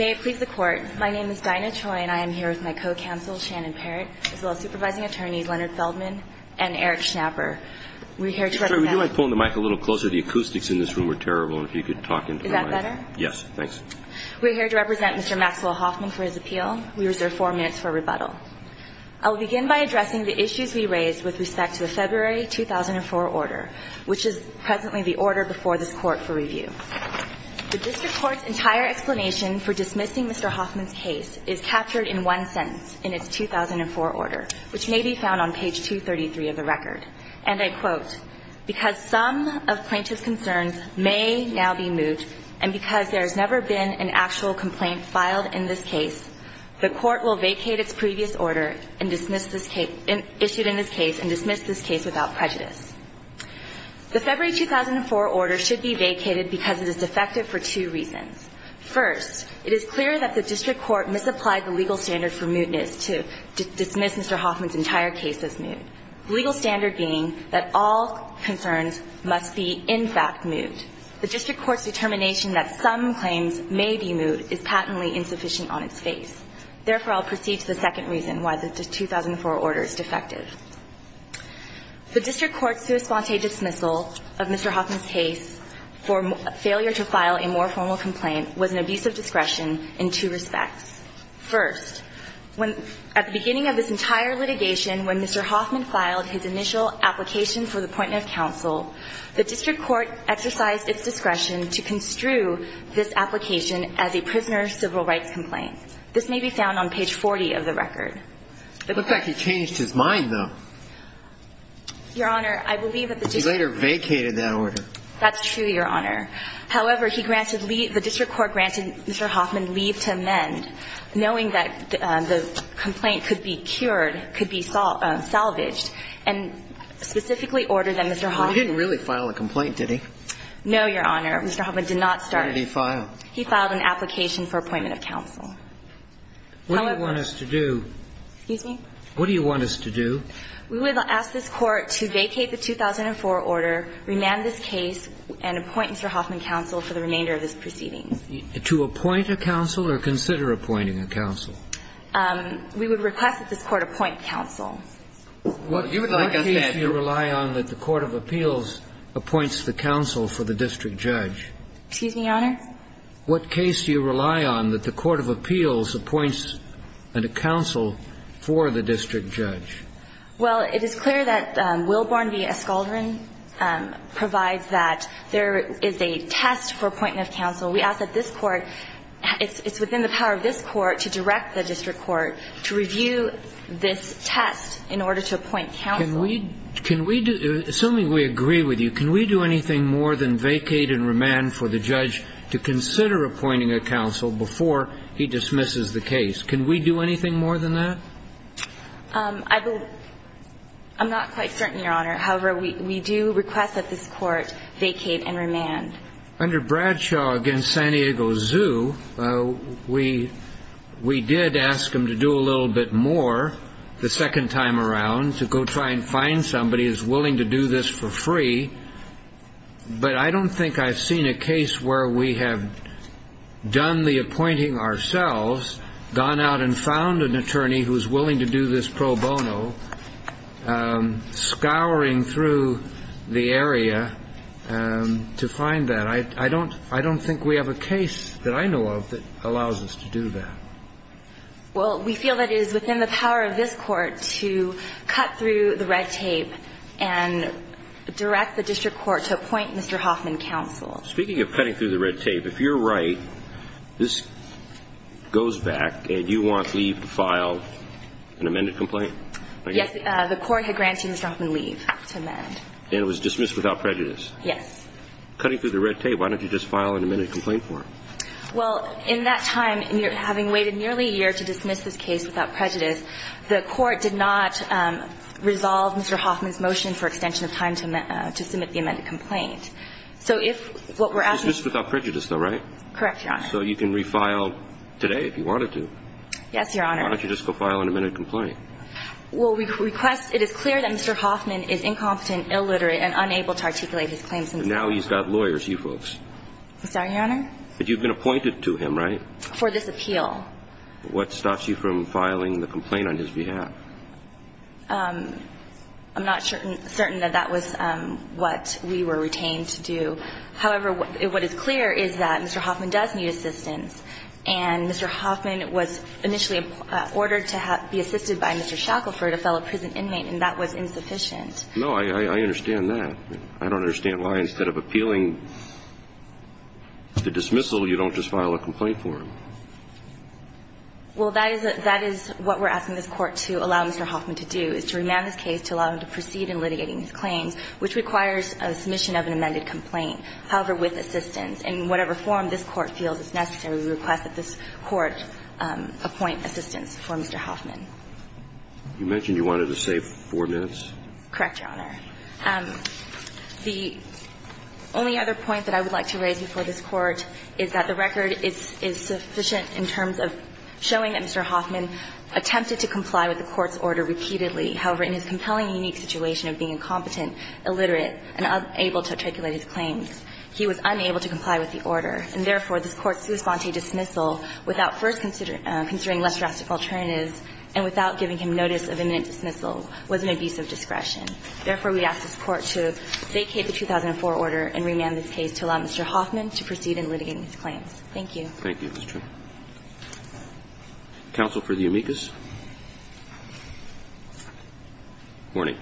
it please the Court, my name is Dinah Choi and I am here with my co-counsel Shannon Perritt, as well as supervising attorneys Leonard Feldman and Eric Schnapper. We're here to represent Mr. Maxwell Hoffman for his appeal. We reserve four minutes for rebuttal. I will begin by addressing the issues we raised with respect to the February 2004 order, which is presently the order before this Court for review. The District Court's entire explanation for dismissing Mr. Hoffman's case is captured in one sentence in its 2004 order, which may be found on page 233 of the record. And I quote, because some of plaintiff's concerns may now be moved, and because there has never been an actual complaint filed in this case, the Court will vacate its previous order issued in this case and dismiss this case without prejudice. The February 2004 order should be vacated because it is defective for two reasons. First, it is clear that the District Court misapplied the legal standard for mootness to dismiss Mr. Hoffman's entire case as moot, the legal standard being that all concerns must be in fact moot. The District Court's determination that some claims may be moot is patently insufficient on its face. Therefore, I'll proceed to the second reason why the 2004 order is defective. The District Court's sui sponte dismissal of Mr. Hoffman's case for failure to file a more formal complaint was an abuse of discretion in two respects. First, when at the beginning of this entire litigation, when Mr. Hoffman filed his initial application for the appointment of counsel, the District Court exercised its discretion to construe this application as a prisoner's civil rights complaint. This may be found on page 40 of the record. It looks like he changed his mind, though. Your Honor, I believe that the District Court ---- He later vacated that order. That's true, Your Honor. However, he granted ---- the District Court granted Mr. Hoffman leave to amend, knowing that the complaint could be cured, could be salvaged, and specifically ordered that Mr. Hoffman ---- Well, he didn't really file a complaint, did he? No, Your Honor. Mr. Hoffman did not start it. What did he file? He filed an application for appointment of counsel. However ---- What do you want us to do? Excuse me? What do you want us to do? We would ask this Court to vacate the 2004 order, remand this case, and appoint Mr. Hoffman counsel for the remainder of this proceeding. To appoint a counsel or consider appointing a counsel? We would request that this Court appoint counsel. Well, you would like us to ---- What case do you rely on that the court of appeals appoints the counsel for the district judge? Excuse me, Your Honor? What case do you rely on that the court of appeals appoints a counsel for the district judge? Well, it is clear that Willborn v. Escaldron provides that there is a test for appointment of counsel. We ask that this Court ---- it's within the power of this Court to direct the district court to review this test in order to appoint counsel. Can we do ---- assuming we agree with you, can we do anything more than vacate and remand the case to consider appointing a counsel before he dismisses the case? Can we do anything more than that? I will ---- I'm not quite certain, Your Honor. However, we do request that this Court vacate and remand. Under Bradshaw v. San Diego Zoo, we did ask him to do a little bit more the second time around to go try and find somebody who is willing to do this for free. But I don't think I've seen a case where we have done the appointing ourselves, gone out and found an attorney who is willing to do this pro bono, scouring through the area to find that. I don't think we have a case that I know of that allows us to do that. Well, we feel that it is within the power of this Court to cut through the red tape and direct the district court to appoint Mr. Hoffman counsel. Speaking of cutting through the red tape, if you're right, this goes back and you want leave to file an amended complaint? Yes. The Court had granted Mr. Hoffman leave to amend. And it was dismissed without prejudice? Yes. Cutting through the red tape, why don't you just file an amended complaint for him? Well, in that time, having waited nearly a year to dismiss this case without prejudice, the Court did not resolve Mr. Hoffman's motion for extension of time to submit the amended complaint. So if what we're asking you to do is file an amended complaint. It's dismissed without prejudice, though, right? Correct, Your Honor. So you can refile today if you wanted to. Yes, Your Honor. Why don't you just go file an amended complaint? Well, we request that it is clear that Mr. Hoffman is incompetent, illiterate, and unable to articulate his claims. Now he's got lawyers, you folks. I'm sorry, Your Honor? But you've been appointed to him, right? For this appeal. What stops you from filing the complaint on his behalf? I'm not certain that that was what we were retained to do. However, what is clear is that Mr. Hoffman does need assistance. And Mr. Hoffman was initially ordered to be assisted by Mr. Shackelford, a fellow prison inmate, and that was insufficient. No, I understand that. I don't understand why instead of appealing the dismissal, you don't just file a complaint for him. Well, that is what we're asking this Court to allow Mr. Hoffman to do, is to remand this case to allow him to proceed in litigating his claims, which requires a submission of an amended complaint, however, with assistance. In whatever form this Court feels is necessary, we request that this Court appoint assistance for Mr. Hoffman. You mentioned you wanted to save four minutes? Correct, Your Honor. The only other point that I would like to raise before this Court is that the record is sufficient in terms of showing that Mr. Hoffman attempted to comply with the Court's order repeatedly, however, in his compelling unique situation of being incompetent, illiterate, and unable to articulate his claims, he was unable to comply with the order, and therefore, this Court's response to dismissal without first considering less drastic alternatives and without giving him notice of imminent dismissal was an abuse of discretion. Therefore, we ask this Court to vacate the 2004 order and remand this case to allow Mr. Hoffman to proceed in litigating his claims. Thank you. Thank you, Ms. Trimble. Counsel for the amicus. Good morning.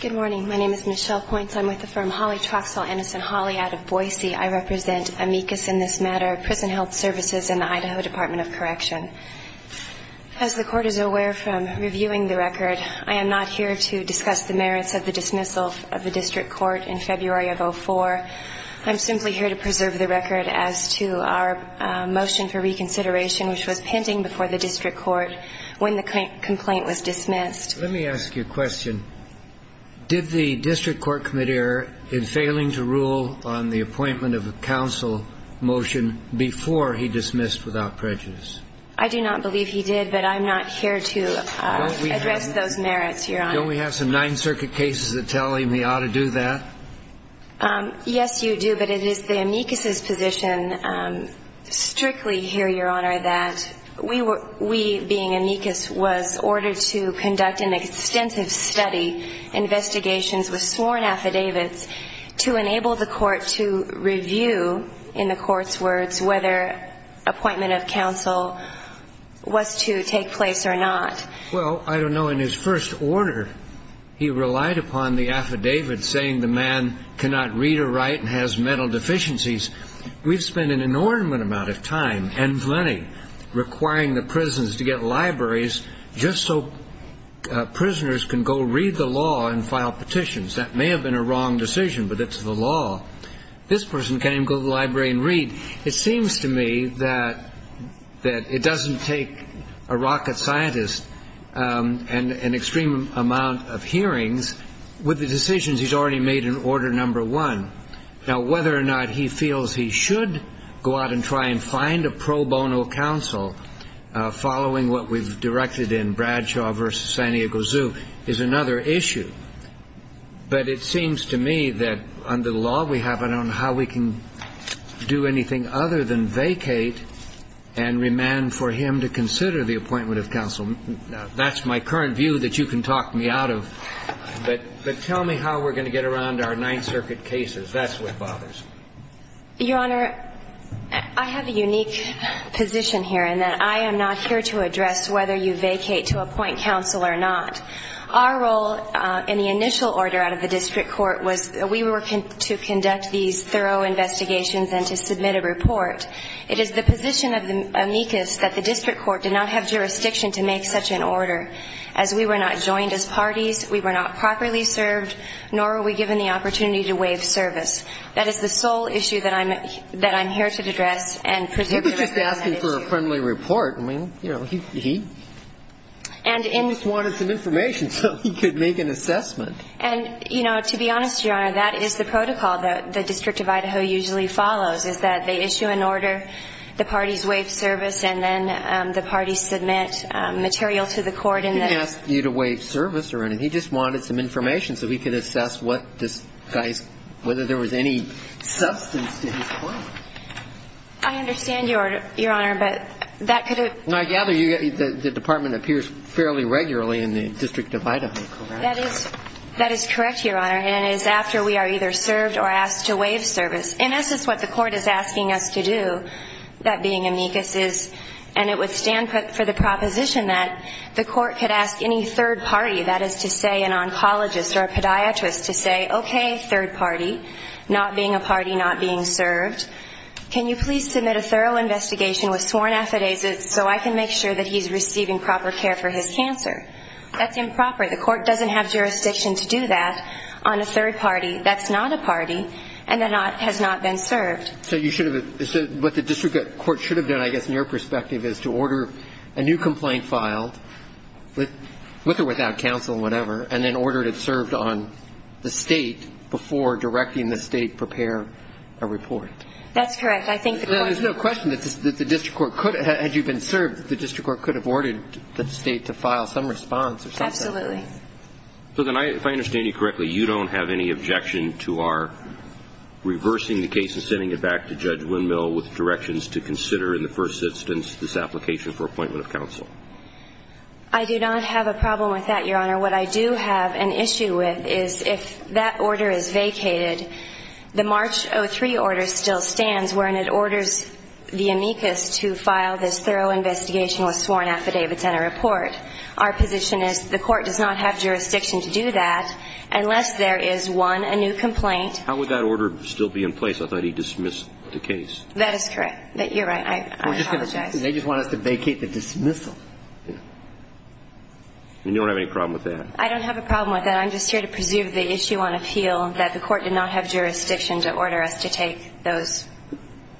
Good morning. My name is Michelle Points. I'm with the firm Holly Troxel, Innocent Holly out of Boise. I represent amicus in this matter, Prison Health Services, and the Idaho Department of Correction. As the Court is aware from reviewing the record, I am not here to discuss the merits of the dismissal of the district court in February of 2004. I'm simply here to preserve the record as to our motion for reconsideration which was pending before the district court when the complaint was dismissed. Let me ask you a question. Did the district court committeer, in failing to rule on the appointment of a counsel motion before he dismissed without prejudice? I do not believe he did, but I'm not here to address those merits, Your Honor. Don't we have some Ninth Circuit cases that tell him he ought to do that? Yes, you do. But it is the amicus's position strictly here, Your Honor, that we being amicus was ordered to conduct an extensive study, investigations with sworn affidavits to enable the court to review, in the court's words, whether appointment of counsel was to take place or not. Well, I don't know. In his first order, he relied upon the affidavit saying the man cannot read or write and has mental deficiencies. We've spent an inordinate amount of time and money requiring the prisons to get libraries just so prisoners can go read the law and file petitions. That may have been a wrong decision, but it's the law. This person can't even go to the library and read. It seems to me that it doesn't take a rocket scientist and an extreme amount of hearings with the decisions he's already made in order number one. Now, whether or not he feels he should go out and try and find a pro bono counsel following what we've directed in Bradshaw v. San Diego Zoo is another issue. But it seems to me that under the law we have, I don't know how we can do anything other than vacate and remand for him to consider the appointment of counsel. That's my current view that you can talk me out of. But tell me how we're going to get around our Ninth Circuit cases. That's what bothers me. Your Honor, I have a unique position here in that I am not here to address whether you vacate to appoint counsel or not. Our role in the initial order out of the district court was we were to conduct these thorough investigations and to submit a report. It is the position of the amicus that the district court did not have jurisdiction to make such an order. As we were not joined as parties, we were not properly served, nor were we given the opportunity to waive service. That is the sole issue that I'm here to address and particularly on that issue. He was just asking for a friendly report. I mean, you know, he almost wanted some information so he could make an assessment. And, you know, to be honest, Your Honor, that is the protocol that the District of Idaho usually follows is that they issue an order, the parties waive service, and then the parties submit material to the court. He didn't ask you to waive service or anything. He just wanted some information so he could assess whether there was any substance to his claim. I understand, Your Honor, but that could have been. I gather the department appears fairly regularly in the District of Idaho. That is correct, Your Honor, and it is after we are either served or asked to waive service. And this is what the court is asking us to do, that being amicus, and it would stand for the proposition that the court could ask any third party, that is to say an oncologist or a podiatrist, to say, okay, third party, not being a party, not being served, can you please submit a thorough investigation with sworn affidavits so I can make sure that he's receiving proper care for his cancer? That's improper. The court doesn't have jurisdiction to do that on a third party. That's not a party and has not been served. So what the district court should have done, I guess, in your perspective, is to order a new complaint filed, with or without counsel, whatever, and then order it served on the State before directing the State prepare a report. That's correct. I think the court could have. There's no question that the district court could have, had you been served, the district court could have ordered the State to file some response or something. Absolutely. Susan, if I understand you correctly, you don't have any objection to our reversing the case and sending it back to Judge I do not have a problem with that, Your Honor. What I do have an issue with is if that order is vacated, the March 03 order still stands wherein it orders the amicus to file this thorough investigation with sworn affidavits and a report. Our position is the court does not have jurisdiction to do that unless there is, one, a new complaint. How would that order still be in place? I thought he dismissed the case. That is correct. You're right. I apologize. They just want us to vacate the dismissal. You don't have any problem with that? I don't have a problem with that. I'm just here to preserve the issue on appeal that the court did not have jurisdiction to order us to take those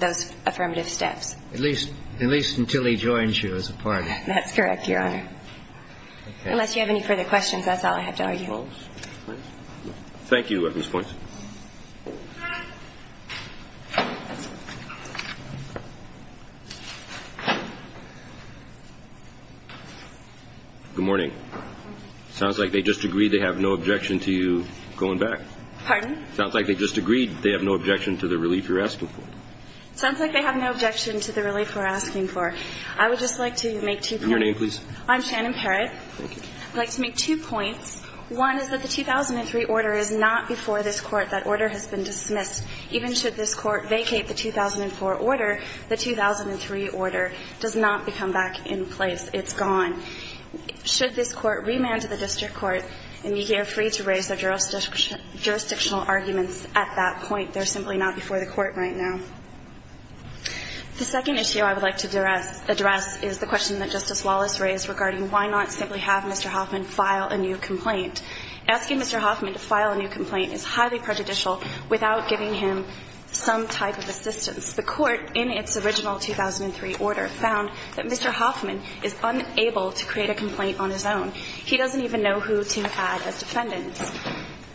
affirmative steps. At least until he joins you as a partner. That's correct, Your Honor. Unless you have any further questions, that's all I have to argue. Thank you, Ms. Poinson. Good morning. Sounds like they just agreed they have no objection to you going back. Pardon? Sounds like they just agreed they have no objection to the relief you're asking for. Sounds like they have no objection to the relief we're asking for. I would just like to make two points. Your name, please. I'm Shannon Parrott. Thank you. I'd like to make two points. One is that the 2003 order is not before this Court. That order has been dismissed. Even should this Court vacate the 2004 order, the 2003 order does not become back in place. It's gone. Should this Court remand to the district court and be here free to raise their jurisdictional arguments at that point, they're simply not before the Court right now. The second issue I would like to address is the question that Justice Wallace raised regarding why not simply have Mr. Hoffman file a new complaint. Asking Mr. Hoffman to file a new complaint is highly prejudicial without giving him some type of assistance. The Court, in its original 2003 order, found that Mr. Hoffman is unable to create a complaint on his own. He doesn't even know who to add as defendants.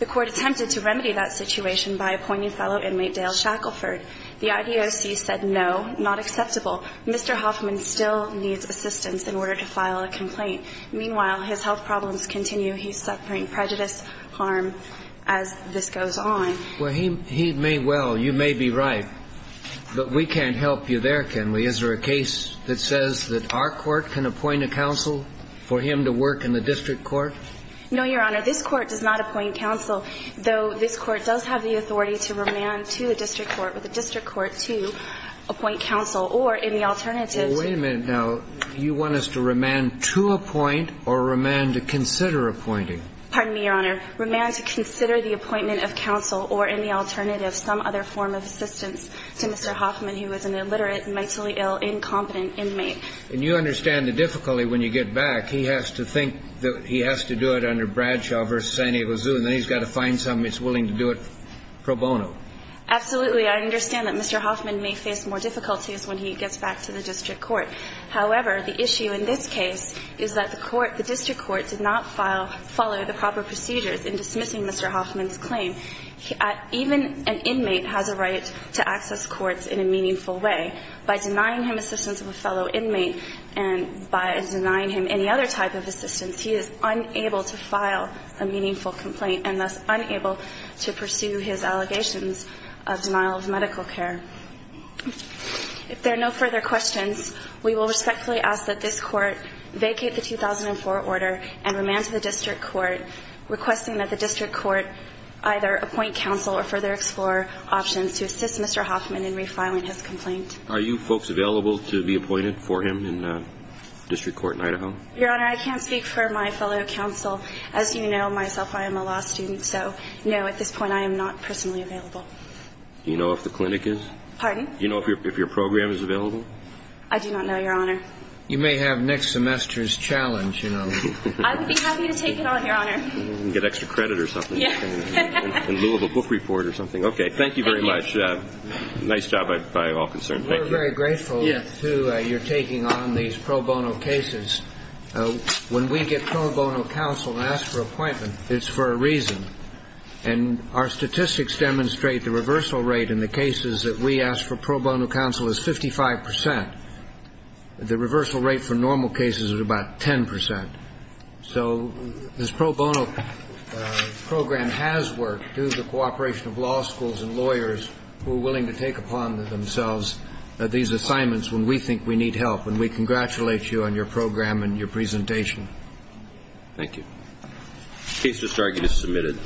The Court attempted to remedy that situation by appointing fellow inmate Dale Shackelford. The IDOC said no, not acceptable. Mr. Hoffman still needs assistance in order to file a complaint. Meanwhile, his health problems continue. He's suffering prejudice, harm, as this goes on. Well, he may well, you may be right, but we can't help you there, can we? Is there a case that says that our Court can appoint a counsel for him to work in the district court? No, Your Honor. This Court does not appoint counsel, though this Court does have the authority to remand to a district court with a district court to appoint counsel, or in the alternative to the district court. Does this Court appoint or remand to consider appointing? Pardon me, Your Honor. Remand to consider the appointment of counsel, or in the alternative, some other form of assistance to Mr. Hoffman, who is an illiterate, mentally ill, incompetent inmate. And you understand the difficulty when you get back. He has to think that he has to do it under Bradshaw v. San Diego Zoo, and then he's got to find something that's willing to do it pro bono. Absolutely. I understand that Mr. Hoffman may face more difficulties when he gets back to the district court. However, the issue in this case is that the court, the district court, did not follow the proper procedures in dismissing Mr. Hoffman's claim. Even an inmate has a right to access courts in a meaningful way. By denying him assistance of a fellow inmate and by denying him any other type of assistance, he is unable to file a meaningful complaint and thus unable to pursue his allegations of denial of medical care. If there are no further questions, we will respectfully ask that this court vacate the 2004 order and remand to the district court, requesting that the district court either appoint counsel or further explore options to assist Mr. Hoffman in refiling his complaint. Are you folks available to be appointed for him in the district court in Idaho? Your Honor, I can't speak for my fellow counsel. As you know myself, I am a law student, so no, at this point I am not personally available. Do you know if the clinic is? Pardon? Do you know if your program is available? I do not know, Your Honor. You may have next semester's challenge, you know. I would be happy to take it on, Your Honor. Get extra credit or something. In lieu of a book report or something. Okay, thank you very much. Nice job by all concerned. Thank you. We're very grateful to you taking on these pro bono cases. When we get pro bono counsel and ask for an appointment, it's for a reason. And our statistics demonstrate the reversal rate in the cases that we ask for pro bono counsel is 55 percent. The reversal rate for normal cases is about 10 percent. So this pro bono program has worked due to the cooperation of law schools and lawyers who are willing to take upon themselves these assignments when we think we need help. And we congratulate you on your program and your presentation. Thank you. Case disargument is submitted.